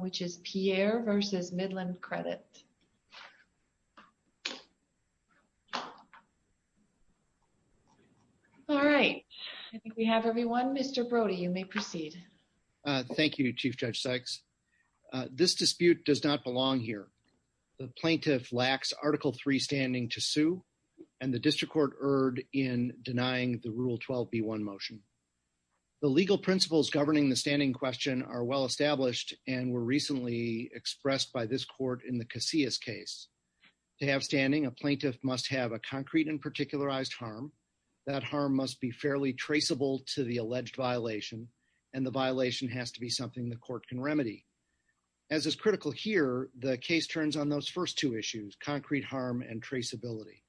which is Pierre versus Midland Credit. All right, I think we have everyone. Mr. Brody, you may proceed. Thank you, Chief Judge Sykes. This dispute does not belong here. The plaintiff lacks Article 3 standing to sue and the district court erred in denying the Rule 12b1 motion. The legal principles governing the standing question are well-established and were recently expressed by this court in the Casillas case. To have standing, a plaintiff must have a concrete and particularized harm. That harm must be fairly traceable to the alleged violation, and the violation has to be something the court can remedy. As is critical here, the case turns on those first two issues, concrete harm and traceability.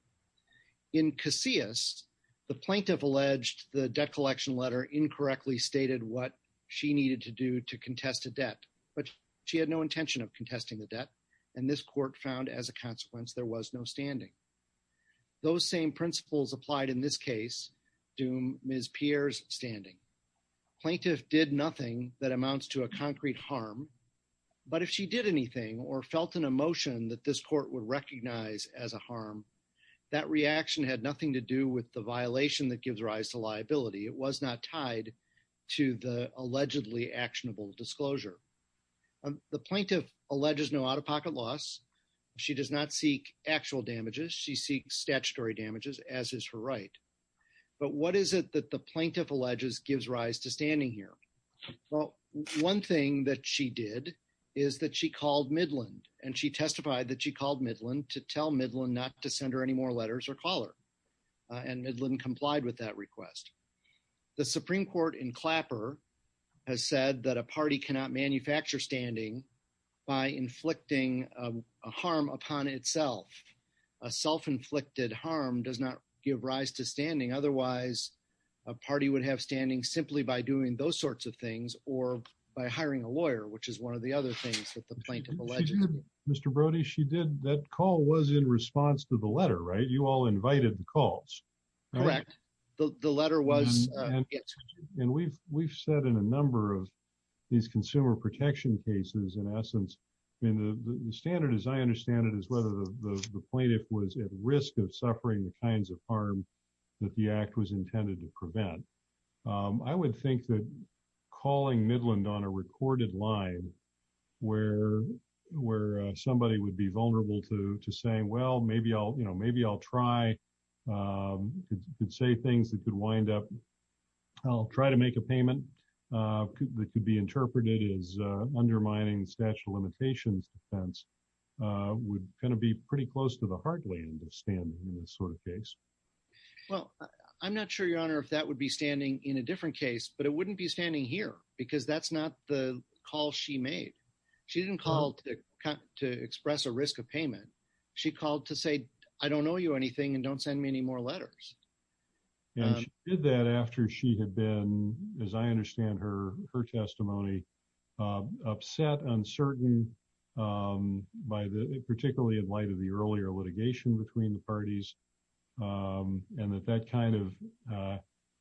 In Casillas, the plaintiff alleged the debt collection letter incorrectly stated what she needed to do to contest a debt, but she had no intention of contesting the debt, and this court found as a consequence there was no standing. Those same principles applied in this case to Ms. Pierre's standing. The plaintiff did nothing that amounts to a concrete harm, but if she did anything or felt an emotion that this court would that reaction had nothing to do with the violation that gives rise to liability, it was not tied to the allegedly actionable disclosure. The plaintiff alleges no out-of-pocket loss. She does not seek actual damages. She seeks statutory damages, as is her right. But what is it that the plaintiff alleges gives rise to standing here? Well, one thing that she did is that she called Midland, and she testified that she called Midland to tell Midland not to any more letters or call her, and Midland complied with that request. The Supreme Court in Clapper has said that a party cannot manufacture standing by inflicting a harm upon itself. A self-inflicted harm does not give rise to standing. Otherwise, a party would have standing simply by doing those sorts of things or by hiring a lawyer, which is one of the other things that the plaintiff alleged. Mr. Brody, that call was in response to the letter, right? You all invited the calls. Correct. The letter was. And we've said in a number of these consumer protection cases, in essence, and the standard as I understand it is whether the plaintiff was at risk of suffering the kinds of harm that the act was intended to prevent. I would think that calling Midland on a recorded line where somebody would be vulnerable to saying, well, maybe I'll try, could say things that could wind up, I'll try to make a payment that could be interpreted as undermining the statute of limitations defense would kind of be pretty close to the heartland of standing in this sort of case. Well, I'm not sure, Your Honor, if that would be standing in a different case, but it wouldn't be standing here because that's not the call she made. She didn't call to express a risk of payment. She called to say, I don't know you anything and don't send me any more letters. And she did that after she had been, as I understand her testimony, upset, uncertain, particularly in light of the earlier litigation between the parties, and that that kind of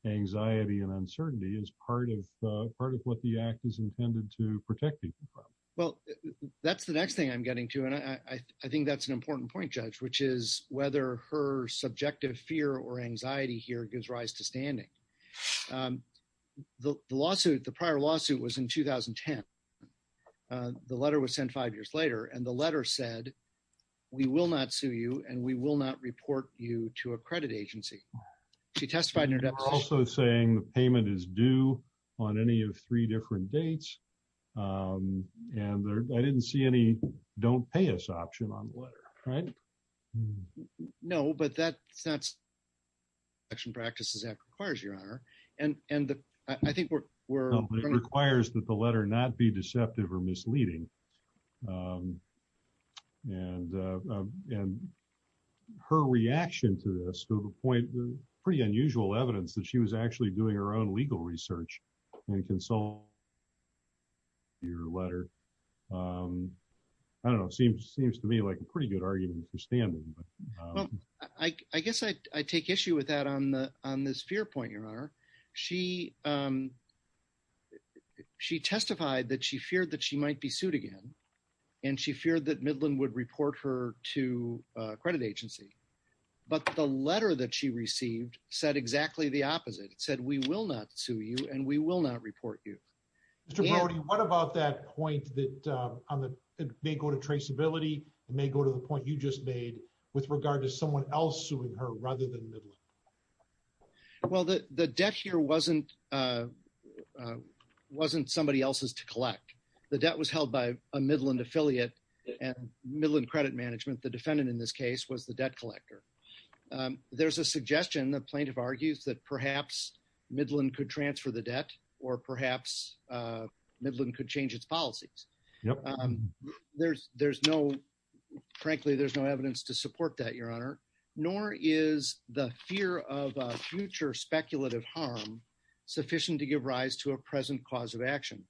anxiety and uncertainty is part of what the act is intended to protect people from. Well, that's the next thing I'm getting to, and I think that's an important point, Judge, which is whether her subjective fear or anxiety here gives rise to standing. The prior lawsuit was in 2010. The letter was sent five years later, and the letter said, we will not sue you, and we will not report you to a credit agency. She testified in her deposition. You're also saying the payment is due on any of three different dates, and I didn't see any don't pay us option on the letter, right? No, but that's not selection practices that requires, Your Honor, and I think we're... No, it requires that the and her reaction to this to the point, pretty unusual evidence that she was actually doing her own legal research and consult your letter. I don't know. It seems to me like a pretty good argument for standing. Well, I guess I take issue with that on this fear point, Your Honor. She testified that she feared that she might be sued again, and she feared that Midland would report her to a credit agency, but the letter that she received said exactly the opposite. It said, we will not sue you, and we will not report you. Mr. Brody, what about that point that may go to traceability? It may go to the point you just made with regard to someone else suing her rather than Midland. Well, the debt here wasn't somebody else's to collect. The debt was held by a Midland affiliate and Midland Credit Management, the defendant in this case, was the debt collector. There's a suggestion, the plaintiff argues, that perhaps Midland could transfer the debt or perhaps Midland could change its policies. There's no, frankly, there's no evidence to support that, nor is the fear of future speculative harm sufficient to give rise to a present cause of action.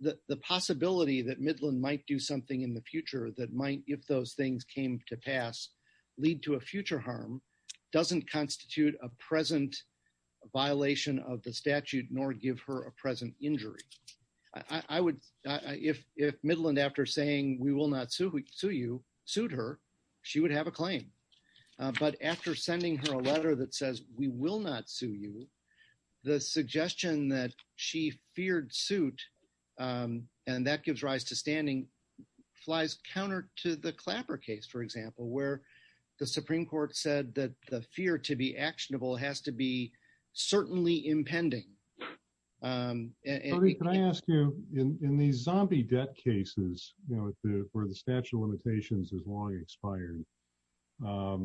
The possibility that Midland might do something in the future that might, if those things came to pass, lead to a future harm doesn't constitute a present violation of the statute, nor give her a present injury. If Midland, after saying, we will not sue you, sued her, she would have a claim. But after sending her a letter that says, we will not sue you, the suggestion that she feared suit, and that gives rise to standing, flies counter to the Clapper case, for example, where the Supreme Court said that the fear to be actionable has to be certainly impending. Brody, can I ask you, in these zombie debt cases, where the statute of limitations has long expired, what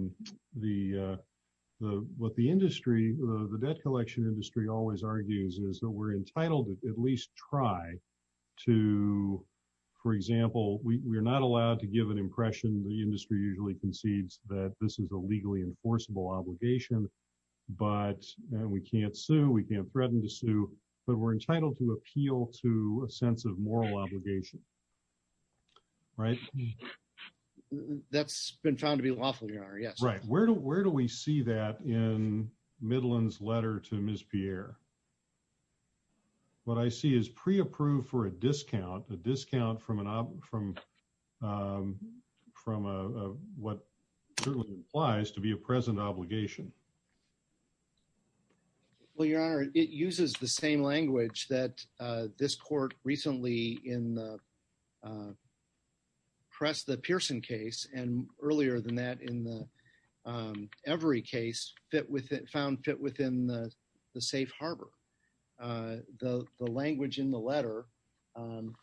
the debt collection industry always argues is that we're entitled to at least try to, for example, we're not allowed to give an impression, the industry usually concedes that this is a legally enforceable obligation, but we can't sue, we can't threaten to sue, but we're entitled to appeal to a sense of moral obligation. Right? That's been found to be lawful, Your Honor, yes. Right. Where do we see that in Midland's letter to Ms. Pierre? What I see is pre-approved for a discount, a discount from what certainly implies to be a present obligation. Well, Your Honor, it uses the same press the Pearson case, and earlier than that in the Every case, found fit within the safe harbor. The language in the letter, and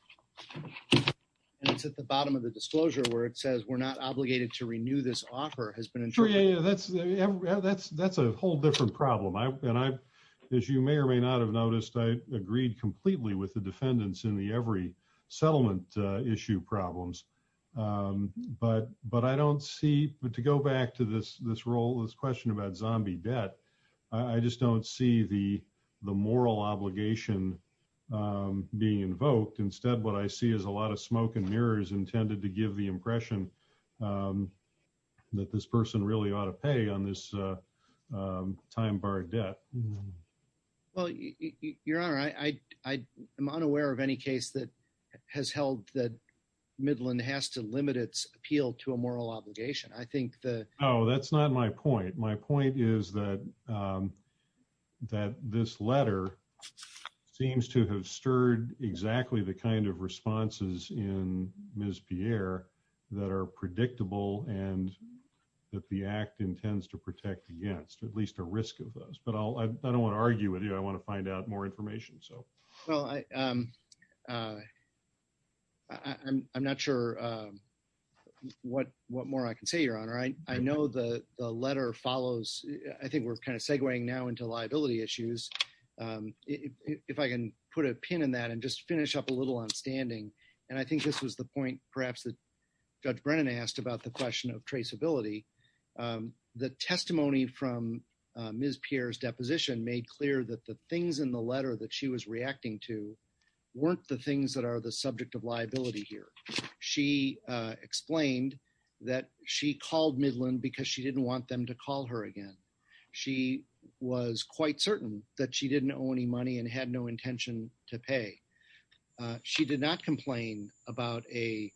it's at the bottom of the disclosure where it says, we're not obligated to renew this offer, has been interpreted. That's a whole different problem, and as you may or may not have noticed, I agreed completely with the defendants in the Every settlement issue problems, but I don't see, but to go back to this role, this question about zombie debt, I just don't see the moral obligation being invoked. Instead, what I see is a lot of smoke and mirrors intended to give the impression that this person really ought to pay on this time-barred debt. Well, Your Honor, I'm unaware of any case that has held that Midland has to limit its appeal to a moral obligation. I think that... No, that's not my point. My point is that this letter seems to have stirred exactly the kind of responses in Ms. Pierre that are predictable and that the act intends to protect against, at least a risk of those, but I don't want to argue with you. I want to find out more information. Well, I'm not sure what more I can say, Your Honor. I know the letter follows, I think we're kind of segueing now into liability issues. If I can put a pin in that and just finish up a little on standing, and I think this was the point perhaps that Judge Brennan asked about the Ms. Pierre's deposition, made clear that the things in the letter that she was reacting to weren't the things that are the subject of liability here. She explained that she called Midland because she didn't want them to call her again. She was quite certain that she didn't owe any money and had no intention to pay. She did not complain about a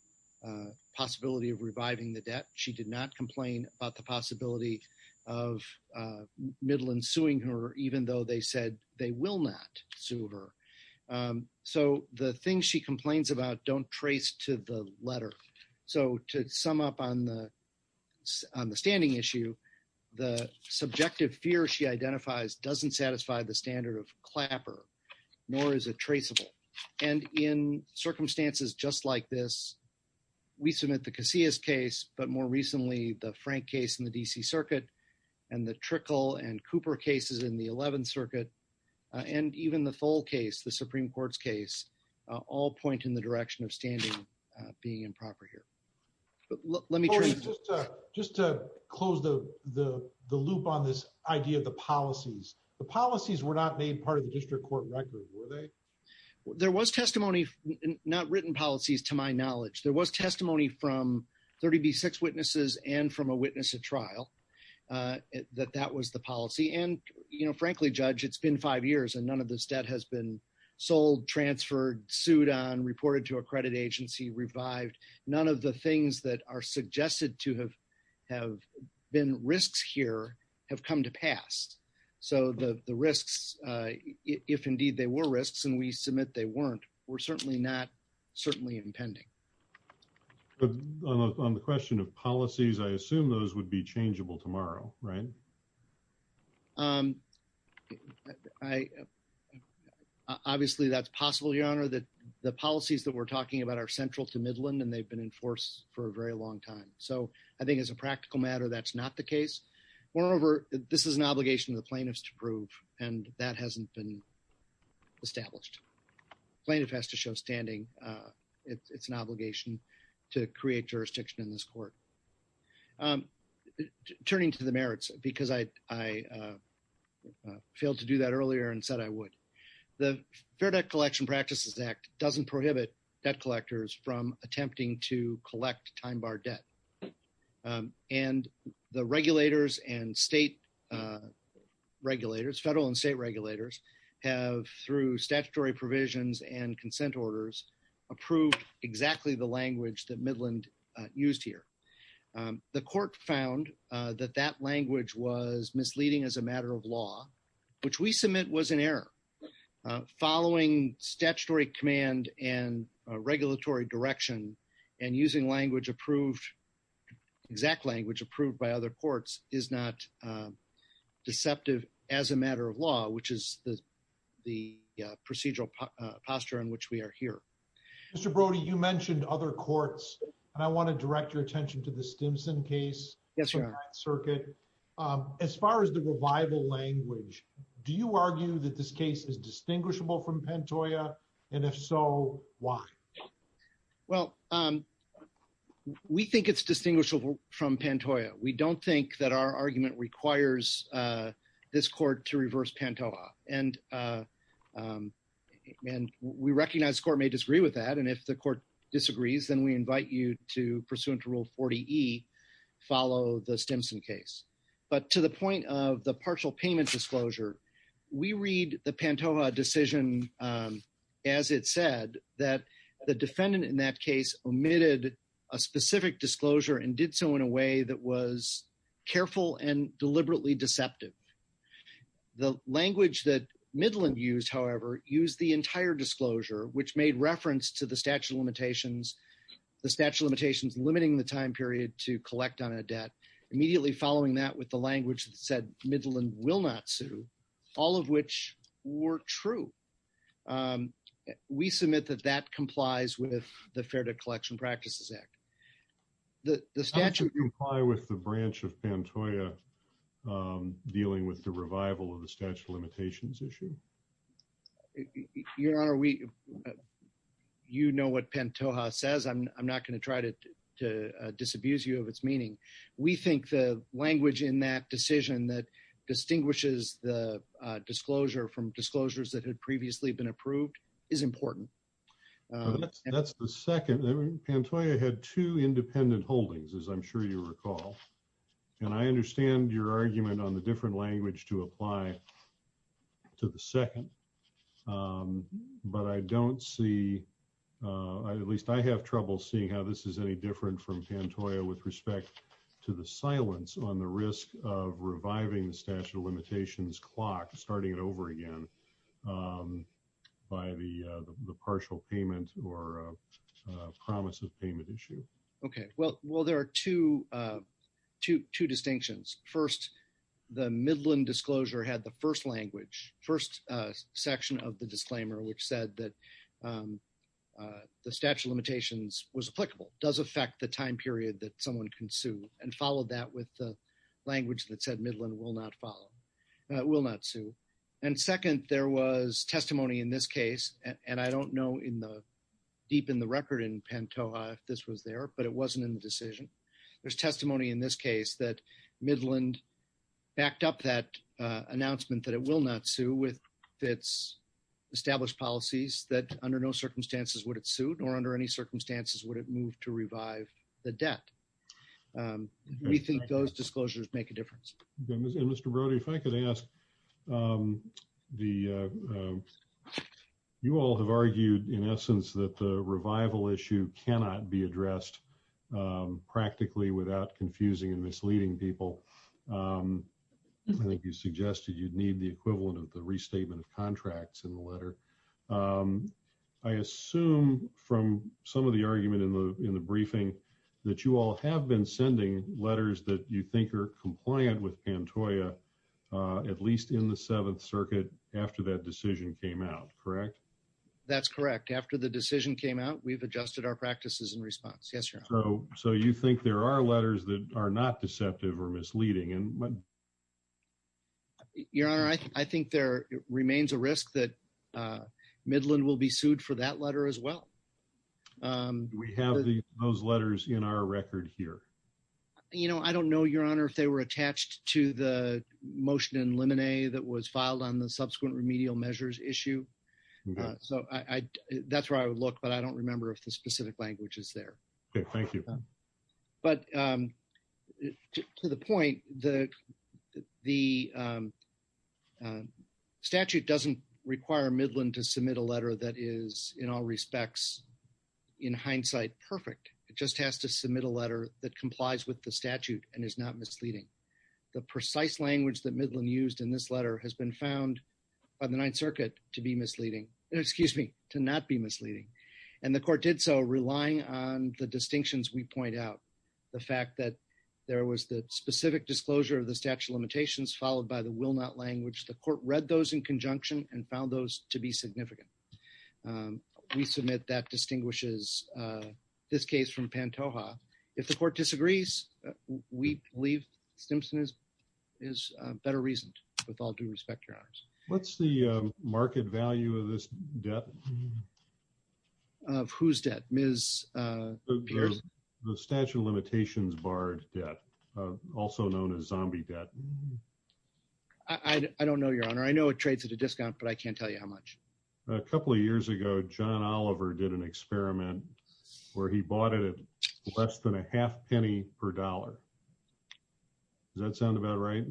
possibility of reviving the debt. She did not complain about the possibility of Midland suing her, even though they said they will not sue her. So the things she complains about don't trace to the letter. So to sum up on the standing issue, the subjective fear she identifies doesn't satisfy the standard of clapper, nor is it traceable. And in circumstances just like this, we submit the Casillas case, but more recently, the Frank case in the D.C. Circuit and the Trickle and Cooper cases in the 11th Circuit, and even the Fole case, the Supreme Court's case, all point in the direction of standing being improper here. But let me just close the loop on this idea of the policies. The policies were not made part of the district court record, were they? There was testimony, not written policies, to my knowledge. There was testimony from 30B6 witnesses and from a witness at trial that that was the policy. And frankly, Judge, it's been five years and none of this debt has been sold, transferred, sued on, reported to a credit agency, revived. None of the things that are if indeed they were risks, and we submit they weren't, were certainly not, certainly impending. But on the question of policies, I assume those would be changeable tomorrow, right? Obviously, that's possible, Your Honor. The policies that we're talking about are central to Midland, and they've been in force for a very long time. So I think as a practical matter, that's not the case. Moreover, this is an obligation of the plaintiffs to prove, and that hasn't been established. Plaintiff has to show standing. It's an obligation to create jurisdiction in this court. Turning to the merits, because I failed to do that earlier and said I would. The Fair Debt Collection Practices Act doesn't prohibit debt collectors from attempting to collect time bar debt. And the regulators and state regulators, federal and state regulators, have through statutory provisions and consent orders, approved exactly the language that Midland used here. The court found that that language was misleading as a matter of law, which we submit was an error. Following statutory command and regulatory direction and using language approved, exact language approved by other courts, is not deceptive as a matter of law, which is the procedural posture in which we are here. Mr. Brody, you mentioned other courts, and I want to direct your attention to the Stimson case. Yes, Your Honor. Circuit. As far as the revival language, do you argue that this case is distinguishable from Pantoja? Well, we think it's distinguishable from Pantoja. We don't think that our argument requires this court to reverse Pantoja. And we recognize the court may disagree with that. And if the court disagrees, then we invite you to, pursuant to Rule 40E, follow the Stimson case. But to the point of partial payment disclosure, we read the Pantoja decision as it said that the defendant in that case omitted a specific disclosure and did so in a way that was careful and deliberately deceptive. The language that Midland used, however, used the entire disclosure, which made reference to the statute of limitations, the statute of limitations limiting the time period to collect on a debt, immediately following that with the language that said Midland will not sue, all of which were true. We submit that that complies with the Fair Debt Collection Practices Act. The statute— Does that comply with the branch of Pantoja dealing with the revival of the statute of limitations issue? Your Honor, you know what Pantoja says. I'm not going to try to disabuse you of its meaning. We think the language in that decision that distinguishes the disclosure from disclosures that had previously been approved is important. That's the second. Pantoja had two independent holdings, as I'm sure you recall. And I understand your argument on the different language to apply to the second. But I don't see, at least I have trouble seeing how this is any different from Pantoja with respect to the silence on the risk of reviving the statute of limitations clock, starting it over again, by the partial payment or promise of payment issue. Okay. Well, there are two distinctions. First, the Midland disclosure had the first language, first section of the disclaimer, which said that the statute of limitations was applicable, does affect the time period that someone can sue, and followed that with the language that said Midland will not follow, will not sue. And second, there was testimony in this case, and I don't know deep in the record in Pantoja if this was there, but it wasn't in the decision. There's testimony in this case that Midland backed up that announcement that it will not sue with its established policies, that under no circumstances would it sue, nor under any circumstances would it move to revive the debt. We think those disclosures make a difference. And Mr. Brody, if I could ask, you all have argued in essence that the revival issue cannot be addressed practically without confusing and misleading people. I think you suggested you'd need the equivalent of the restatement of contracts in the letter. I assume from some of the argument in the briefing that you all have been sending letters that you think are compliant with Pantoja, at least in the Seventh Circuit after that decision came out, correct? That's correct. After the decision came out, we've adjusted our practices in response. Yes, Your Honor. So you think there are letters that are not deceptive or misleading? Your Honor, I think there remains a risk that Midland will be sued for that letter as well. We have those letters in our record here. You know, I don't know, Your Honor, if they were attached to the motion in limine that was filed on the subsequent remedial measures issue. That's where I would look, but I don't remember if the specific language is there. Okay. Thank you. But to the point, the statute doesn't require Midland to submit a letter that is, in all statute, is not misleading. The precise language that Midland used in this letter has been found by the Ninth Circuit to be misleading, excuse me, to not be misleading. And the court did so relying on the distinctions we point out. The fact that there was the specific disclosure of the statute of limitations followed by the will not language, the court read those in conjunction and found those to be significant. We submit that distinguishes this case from Pantoja. If the court disagrees, we believe Stimson is better reasoned, with all due respect, Your Honors. What's the market value of this debt? Of whose debt, Ms. Pierce? The statute of limitations barred debt, also known as zombie debt. I don't know, Your Honor. I know it trades at a discount, but I can't tell you how much. A couple of years ago, John Oliver did an experiment where he bought it at less than a half penny per dollar. Does that sound about right?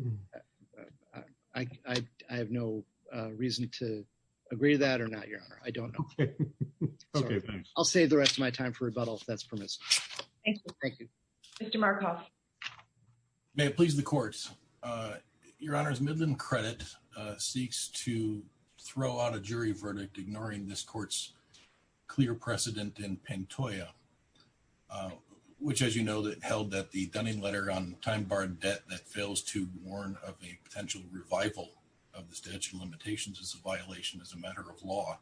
I have no reason to agree to that or not, Your Honor. I don't know. Okay, thanks. I'll save the rest of my time for rebuttal, if that's permissible. Thank you. Thank you. Mr. Markoff. May it please the court. Your Honors, Midland Credit seeks to throw out a jury verdict, ignoring this court's clear precedent in Pantoja, which, as you know, held that the Dunning letter on time-barred debt that fails to warn of a potential revival of the statute of limitations is a violation as a matter of law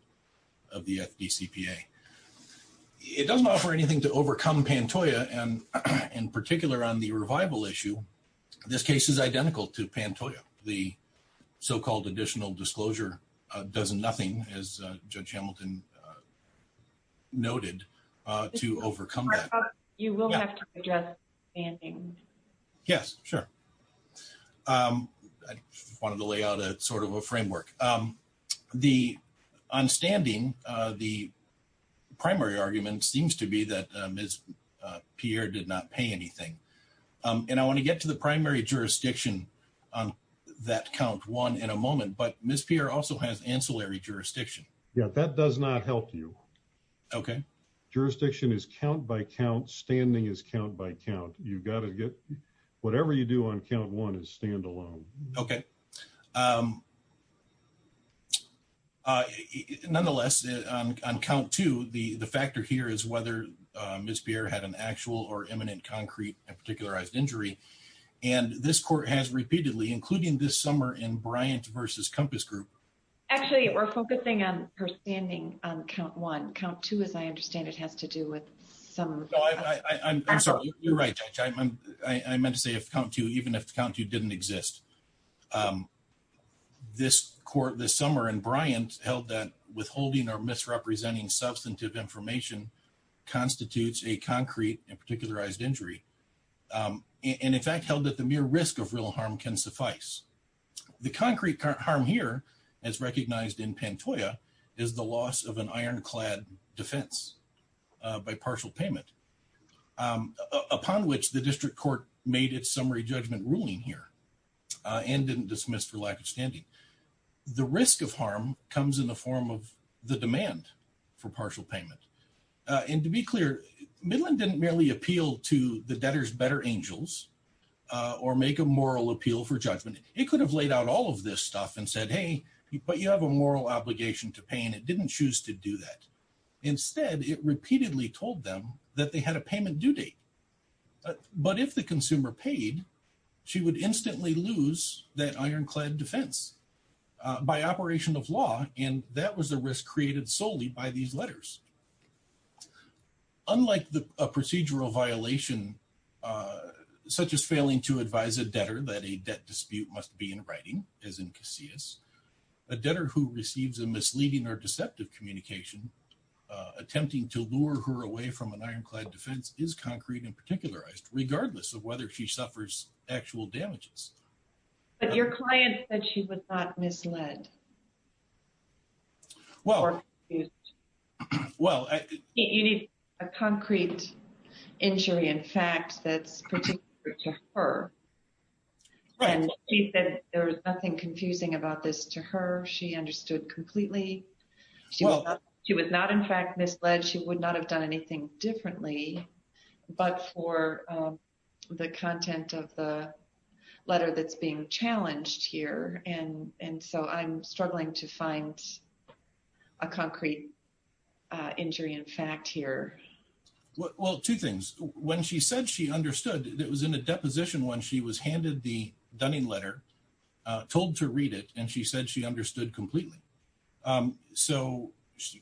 of the FDCPA. It doesn't offer anything to overcome Pantoja, and in particular on the revival issue, this case is identical to Pantoja. The so-called additional disclosure does nothing, as Judge Hamilton noted, to overcome that. Mr. Markoff, you will have to address standing. Yes, sure. I wanted to lay out sort of a framework. The, on standing, the primary argument seems to be that Ms. Pierre did not pay anything, and I want to get to the primary jurisdiction on that count one in a moment, but Ms. Pierre also has ancillary jurisdiction. Yeah, that does not help you. Okay. Jurisdiction is count by count, standing is count by count. You've got to get, whatever you do on count one is standalone. Okay. Nonetheless, on count two, the factor here is whether Ms. Pierre had an actual or imminent concrete and particularized injury, and this court has repeatedly, including this summer in Bryant versus Compass Group. Actually, we're focusing on her standing on count one. Count two, as I understand it, has to do with some... No, I'm sorry. You're right, Judge. I meant to say if count two, even if count two didn't exist. Okay. This court this summer in Bryant held that withholding or misrepresenting substantive information constitutes a concrete and particularized injury, and in fact, held that the mere risk of real harm can suffice. The concrete harm here, as recognized in Pantoja, is the loss of an ironclad defense by partial payment, upon which the district court made its summary judgment ruling here. And didn't dismiss for lack of standing. The risk of harm comes in the form of the demand for partial payment. And to be clear, Midland didn't merely appeal to the debtor's better angels, or make a moral appeal for judgment. It could have laid out all of this stuff and said, hey, but you have a moral obligation to pay, and it didn't choose to do that. Instead, it repeatedly told them that they had a payment due date. But if the consumer paid, she would instantly lose that ironclad defense by operation of law, and that was the risk created solely by these letters. Unlike a procedural violation, such as failing to advise a debtor that a debt dispute must be in writing, as in Casillas, a debtor who receives a misleading or deceptive communication, attempting to lure her away from an ironclad defense, is concrete and particularized, regardless of whether she suffers actual damages. But your client said she was not misled. Well, you need a concrete injury, in fact, that's particular to her. Right. She said there was nothing confusing about this to her. She understood completely. She was not, in fact, misled. She would not have done anything differently, but for the content of the letter that's being challenged here. And so I'm struggling to find a concrete injury in fact here. Well, two things. When she said she understood, it was in a deposition when she was handed the Dunning letter, told to read it, and she said she understood completely. So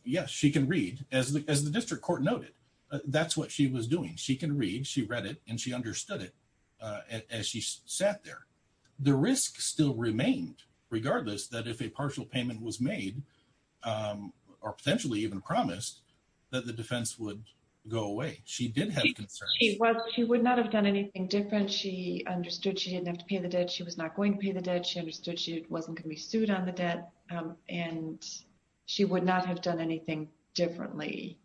yes, she can read, as the district court noted. That's what she was doing. She can read, she read it, and she understood it as she sat there. The risk still remained, regardless that if a partial payment was made, or potentially even promised, that the defense would go away. She did have concerns. She would not have done anything different. She understood she didn't have to pay the debt. She was not going to pay the debt. She understood she wasn't going to be sued on the debt. And she would not have done anything differently.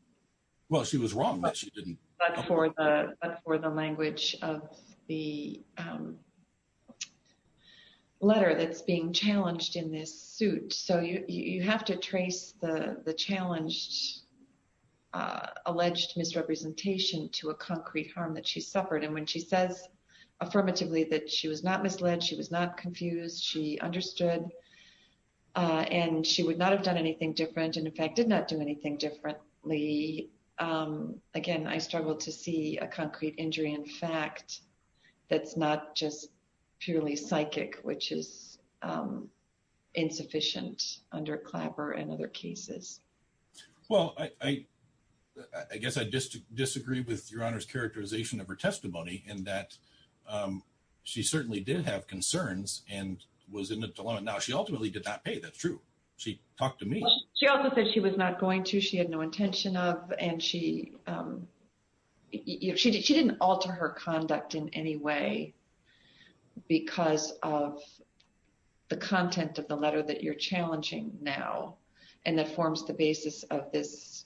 Well, she was wrong, but she didn't. But for the language of the letter that's being challenged in this suit. So you have to trace the challenged, alleged misrepresentation to a concrete harm that she suffered. And when she says affirmatively that she was not misled, she was not confused, she understood, and she would not have done anything different. And in fact, did not do anything differently. Again, I struggle to see a concrete injury in fact, that's not just purely psychic, which is insufficient under Clapper and other cases. Well, I guess I just disagree with Your Honor's characterization of her testimony, and that she certainly did have concerns and was in a dilemma. Now, she ultimately did not pay, that's true. She talked to me. She also said she was not going to, she had no intention of, and she didn't alter her conduct in any way because of the content of the letter that you're challenging now. And that forms the basis of this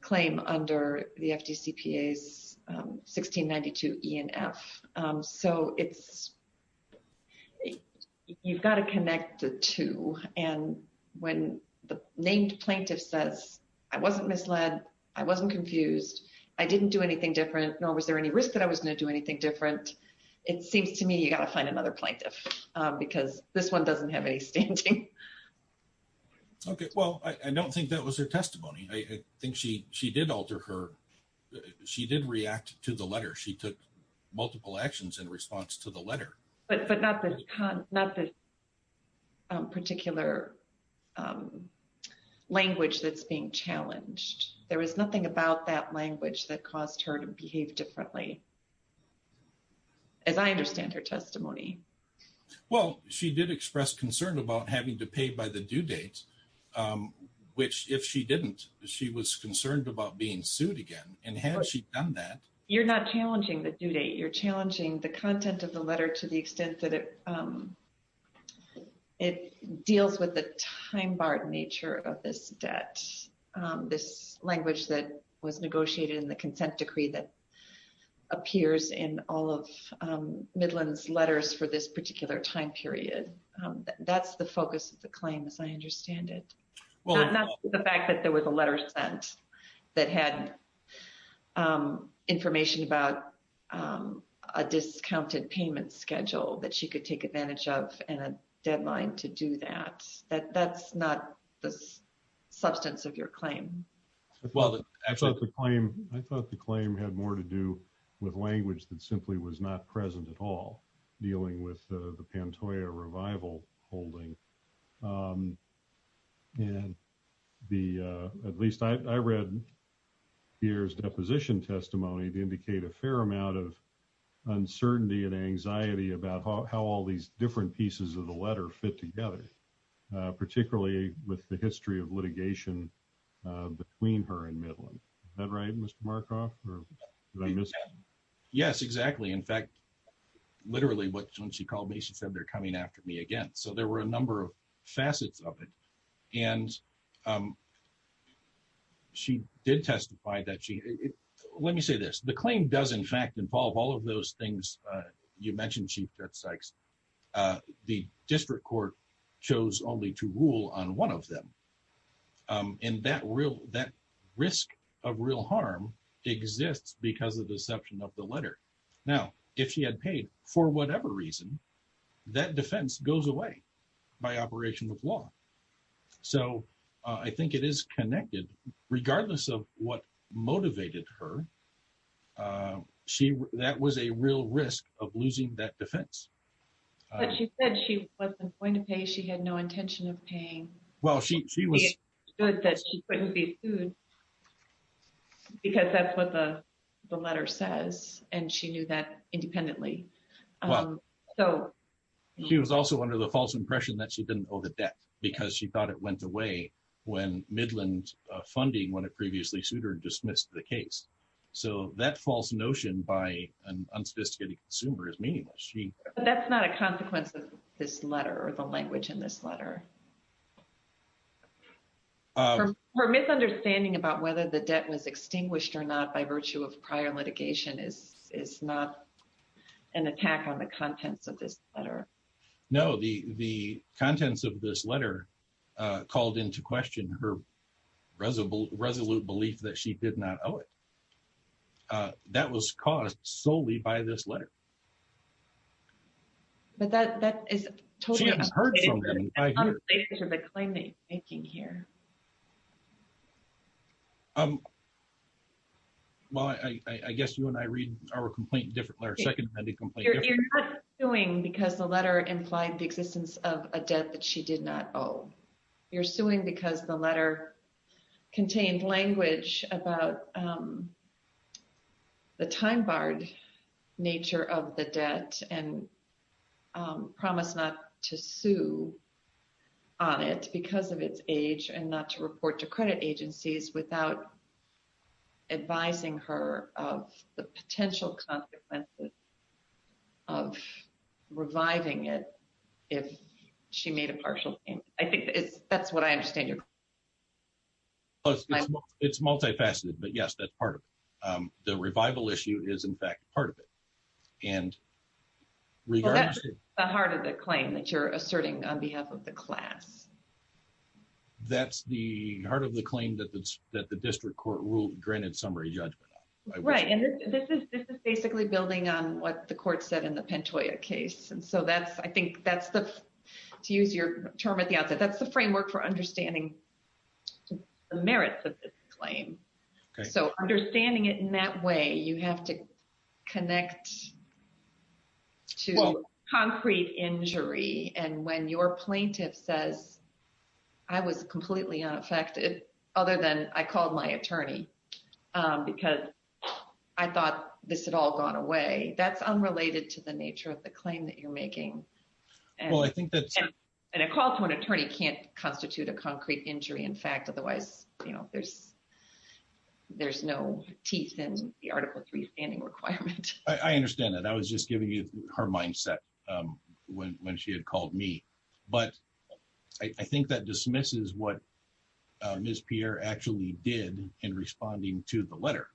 claim under the FDCPA's 1692 E and F. So it's, you've got to connect the two. And when the named plaintiff says, I wasn't misled. I wasn't confused. I didn't do anything different. Nor was there any risk that I was going to do anything different. It seems to me you got to find another plaintiff, because this one doesn't have any standing. Okay, well, I don't think that was her testimony. I think she did alter her. She did react to the letter. She took multiple actions in response to the letter. But not the particular language that's being challenged. There was nothing about that language that caused her to behave differently, as I understand her testimony. Well, she did express concern about having to pay by the due date. Which if she didn't, she was concerned about being sued again. And had she done that. You're not challenging the due date. You're challenging the content of the letter to the extent that it deals with the time-barred nature of this debt. This language that was negotiated in the consent decree that appears in all of Midland's letters for this particular time period. That's the focus of the claim, as I understand it. Not the fact that there was a letter sent that had information about a discounted payment schedule that she could take advantage of. And a deadline to do that. That's not the substance of your claim. I thought the claim had more to do with language that simply was not present at all. Dealing with the Pantoja revival holding. And at least I read here's deposition testimony to indicate a fair amount of uncertainty and anxiety about how all these different pieces of the letter fit together. Particularly with the history of litigation between her and Midland. Is that right, Mr. Markoff? Yes, exactly. In fact, literally when she called me, she said they're coming after me again. So there were a number of facets of it. And she did testify that she... Let me say this. The claim does, in fact, involve all of those things you mentioned, Chief Judge Sykes. The district court chose only to rule on one of them. And that risk of real harm exists because of the deception of the letter. Now, if she had paid for whatever reason, that defense goes away by operation of law. So I think it is connected. Regardless of what motivated her, that was a real risk of losing that defense. But she said she wasn't going to pay. She had no intention of paying. Well, she was... She understood that she couldn't be sued. Because that's what the letter says. And she knew that independently. Well, she was also under the false impression that she didn't owe the debt because she thought it went away when Midland funding, when it previously sued her, dismissed the case. So that false notion by an unsophisticated consumer is meaningless. That's not a consequence of this letter or the language in this letter. Her misunderstanding about whether the debt was extinguished or not by virtue of prior litigation is not an attack on the contents of this letter. No, the contents of this letter called into question her resolute belief that she did not owe it. That was caused solely by this letter. But that is totally... She has heard from them. ...unsafe for the claim they're making here. Well, I guess you and I read our complaint differently, our second-hand complaint differently. You're not suing because the letter implied the existence of a debt that she did not owe. You're suing because the letter contained language about the time-barred nature of the not to report to credit agencies without advising her of the potential consequences of reviving it if she made a partial payment. I think that's what I understand your... It's multifaceted, but yes, that's part of it. The revival issue is, in fact, part of it. And regardless... Well, that's the heart of the claim that you're asserting on behalf of the class. That's the heart of the claim that the district court will grant its summary judgment on. Right. And this is basically building on what the court said in the Pantoja case. And so that's, I think, that's the... To use your term at the outset, that's the framework for understanding the merits of this claim. So understanding it in that way, you have to connect to... Well, concrete injury. And when your plaintiff says, I was completely unaffected other than I called my attorney because I thought this had all gone away. That's unrelated to the nature of the claim that you're making. Well, I think that's... And a call to an attorney can't constitute a concrete injury. In fact, otherwise, there's no teeth in the Article III standing requirement. I understand that. I was just giving you her mindset when she had called me. But I think that dismisses what Ms. Pierre actually did in responding to the letter.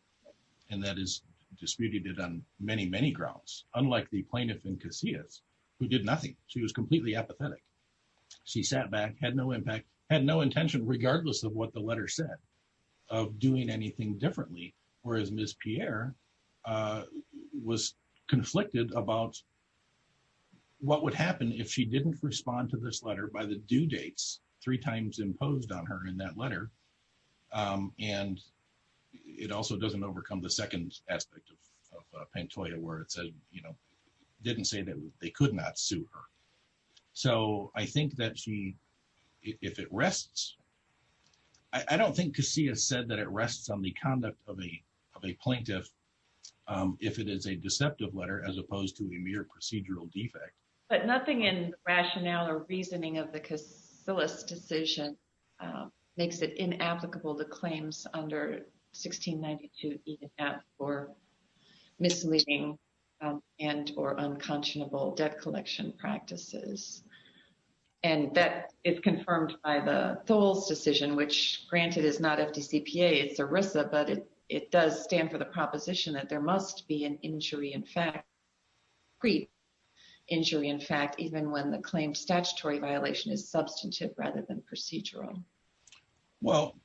And that is disputed on many, many grounds. Unlike the plaintiff in Casillas, who did nothing. She was completely apathetic. She sat back, had no impact, had no intention, regardless of what the letter said, of doing anything differently. Whereas Ms. Pierre was conflicted about what would happen if she didn't respond to this letter by the due dates three times imposed on her in that letter. And it also doesn't overcome the second aspect of Pantoja where it said, didn't say that they could not sue her. So I think that she, if it rests... I don't think Casillas said that it rests on the conduct of a plaintiff if it is a deceptive letter, as opposed to a mere procedural defect. But nothing in rationale or reasoning of the Casillas decision makes it inapplicable to claims under 1692 ENF for misleading and or unconscionable debt collection practices. And that is confirmed by the Tholes decision, which granted is not FDCPA, it's ERISA, but it does stand for the proposition that there must be an injury, in fact, injury, in fact, even when the claim statutory violation is substantive rather than procedural. Well,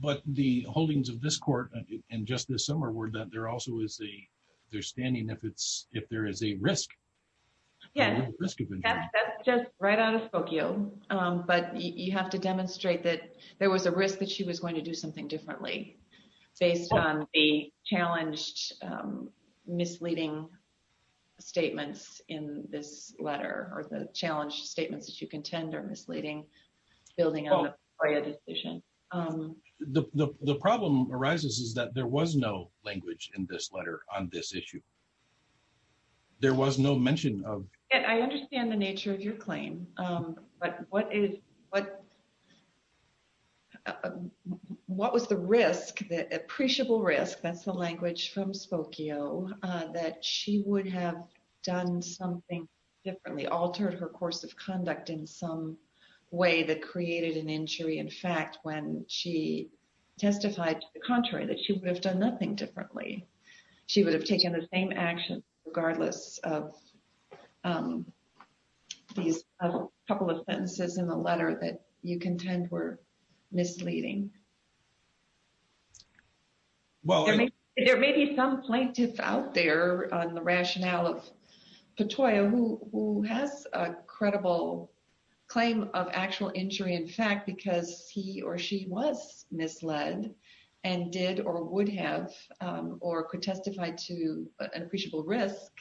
but the holdings of this court and just this summer were that there also is a there's standing if it's, if there is a risk. Yeah, that's just right out of Spokane. But you have to demonstrate that there was a risk that she was going to do something differently based on a challenged, misleading statements in this letter or the challenged statements that you contend are misleading, building on a decision. The problem arises is that there was no language in this letter on this issue. There was no mention of. And I understand the nature of your claim. But what is, what, what was the risk that appreciable risk? That's the language from Spokane, that she would have done something differently, altered her course of conduct in some way that created an injury. In fact, when she testified to the contrary, that she would have done nothing differently. She would have taken the same action regardless of these couple of sentences in the letter that you contend were misleading. Well, there may be some plaintiff out there on the rationale of Patoya who has a credible claim of actual injury, in fact, because he or she was misled and did or would have or could testify to an appreciable risk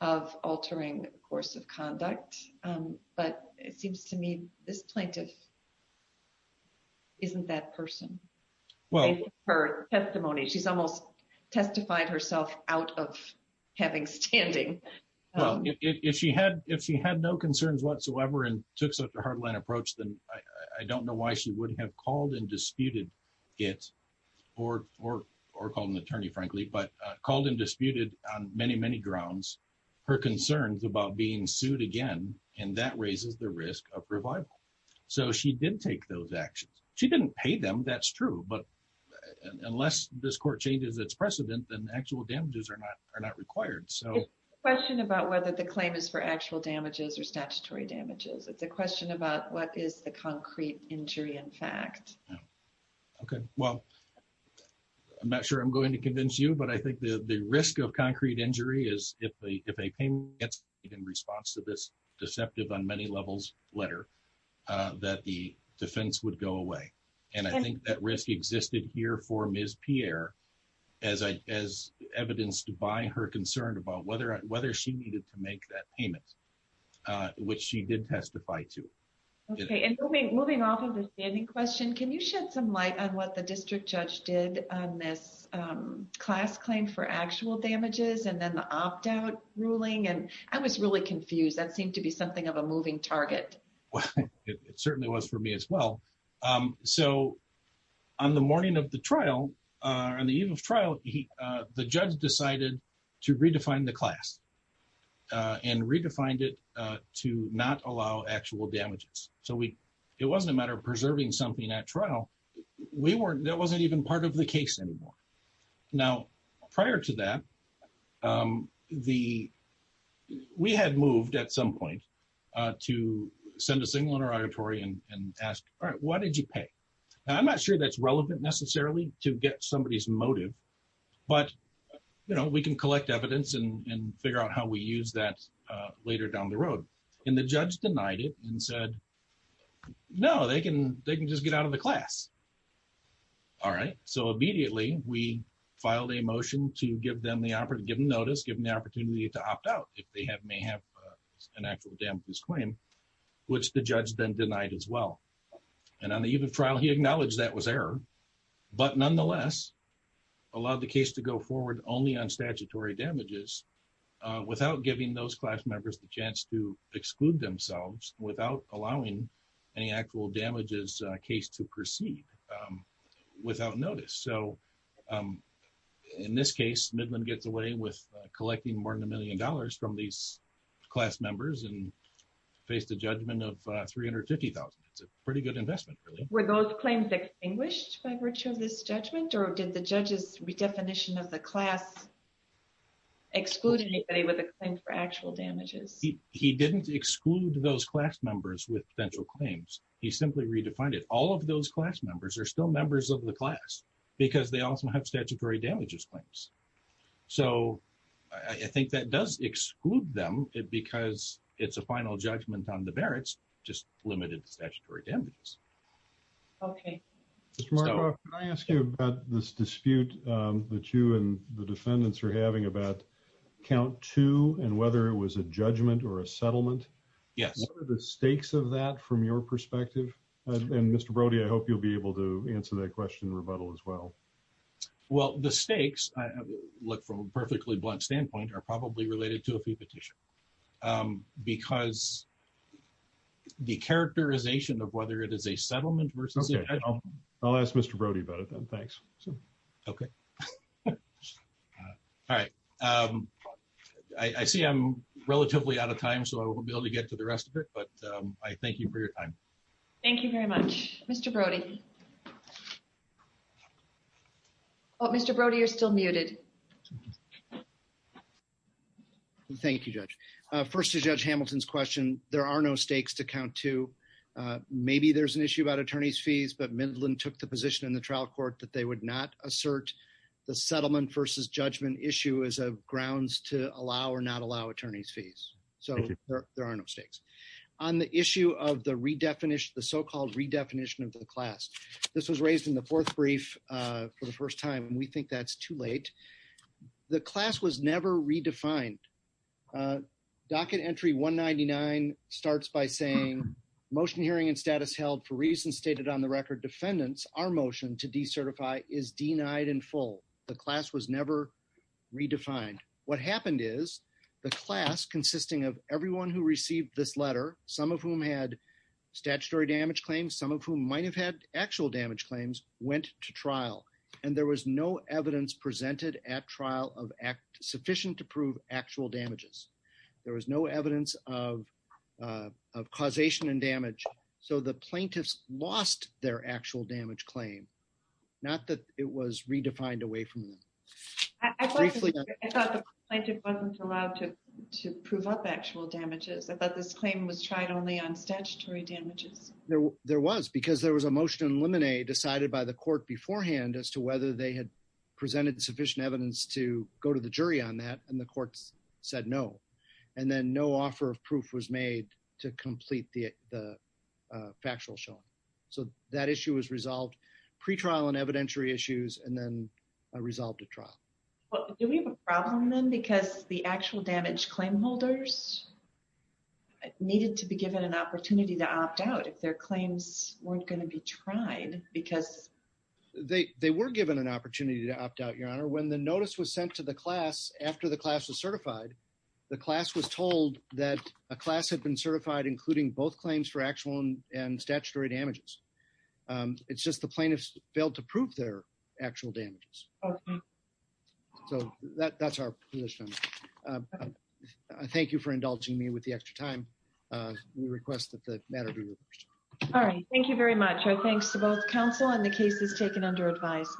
of altering course of conduct. But it seems to me this plaintiff isn't that person. Well, her testimony, she's almost testified herself out of having standing. Well, if she had if she had no concerns whatsoever and took such a hard line approach, I don't know why she would have called and disputed it or or or called an attorney, frankly, but called and disputed on many, many grounds her concerns about being sued again. And that raises the risk of revival. So she did take those actions. She didn't pay them. That's true. But unless this court changes its precedent, then actual damages are not are not required. So question about whether the claim is for actual damages or statutory damages. It's a question about what is the concrete injury, in fact. OK, well, I'm not sure I'm going to convince you, but I think the risk of concrete injury is if a if a pain gets in response to this deceptive on many levels letter that the defense would go away. And I think that risk existed here for Ms. Pierre, as I as evidenced by her concern about whether whether she needed to make that payment, which she did testify to. OK, and moving off of the standing question, can you shed some light on what the district judge did on this class claim for actual damages and then the opt out ruling? And I was really confused. That seemed to be something of a moving target. It certainly was for me as well. So on the morning of the trial, on the eve of trial, the judge decided to redefine the class and redefined it to not allow actual damages. So we it wasn't a matter of preserving something at trial. We weren't that wasn't even part of the case anymore. Now, prior to that, the we had moved at some point to send a signal in our auditorium and ask, all right, what did you pay? And I'm not sure that's relevant necessarily to get somebody's motive. But, you know, we can collect evidence and figure out how we use that later down the road. And the judge denied it and said, no, they can they can just get out of the class. All right, so immediately we filed a motion to give them the opportunity, given notice, given the opportunity to opt out if they have may have an actual damages claim, which the judge then denied as well. And on the eve of trial, he acknowledged that was error. But nonetheless, allowed the case to go forward only on statutory damages without giving those class members the chance to exclude themselves without allowing any actual damages case to proceed without notice. So in this case, Midland gets away with collecting more than a million dollars from these class members and faced a judgment of three hundred fifty thousand. It's a pretty good investment. Were those claims extinguished by virtue of this judgment or did the judge's redefinition of the class exclude anybody with a claim for actual damages? He didn't exclude those class members with potential claims. He simply redefined it. All of those class members are still members of the class because they also have statutory damages claims. So I think that does exclude them because it's a final judgment on the Barrett's just limited statutory damages. OK, Mark, I ask you about this dispute that you and the defendants are having about count two and whether it was a judgment or a settlement. Yes. What are the stakes of that from your perspective? And Mr. Brody, I hope you'll be able to answer that question rebuttal as well. Well, the stakes look from a perfectly blunt standpoint are probably related to a petition because the characterization of whether it is a settlement versus I'll ask Mr. Brody about it. Thanks. OK. All right. I see I'm relatively out of time, so I will be able to get to the rest of it. But I thank you for your time. Thank you very much, Mr. Brody. Mr. Brody, you're still muted. OK. Thank you, Judge. First, Judge Hamilton's question. There are no stakes to count to. Maybe there's an issue about attorneys fees, but Midland took the position in the trial court that they would not assert the settlement versus judgment issue as a grounds to allow or not allow attorneys fees. So there are no stakes on the issue of the redefinition, the so-called redefinition of the class. This was raised in the fourth brief for the first time, and we think that's too late. The class was never redefined. Docket entry 199 starts by saying, motion hearing and status held for reasons stated on the record. Defendants are motion to decertify is denied in full. The class was never redefined. What happened is the class consisting of everyone who received this letter, some of whom had statutory damage claims, some of whom might have had actual damage claims, went to trial, and there was no evidence presented at trial of act sufficient to prove actual damages. There was no evidence of causation and damage. So the plaintiffs lost their actual damage claim. Not that it was redefined away from them. I thought the plaintiff wasn't allowed to prove up actual damages. I thought this claim was tried only on statutory damages. There was, because there was a motion in limine decided by the court beforehand as to whether they had presented sufficient evidence to go to the jury on that, and the courts said no, and then no offer of proof was made to complete the factual showing. So that issue was resolved, pretrial and evidentiary issues, and then resolved at trial. Well, do we have a problem then? Because the actual damage claim holders needed to be given an opportunity to opt out. Their claims weren't going to be tried because. They were given an opportunity to opt out, Your Honor. When the notice was sent to the class after the class was certified, the class was told that a class had been certified, including both claims for actual and statutory damages. It's just the plaintiffs failed to prove their actual damages. So that's our position. Thank you for indulging me with the extra time. We request that the matter be reversed. All right. Thank you very much. Our thanks to both counsel and the cases taken under advice.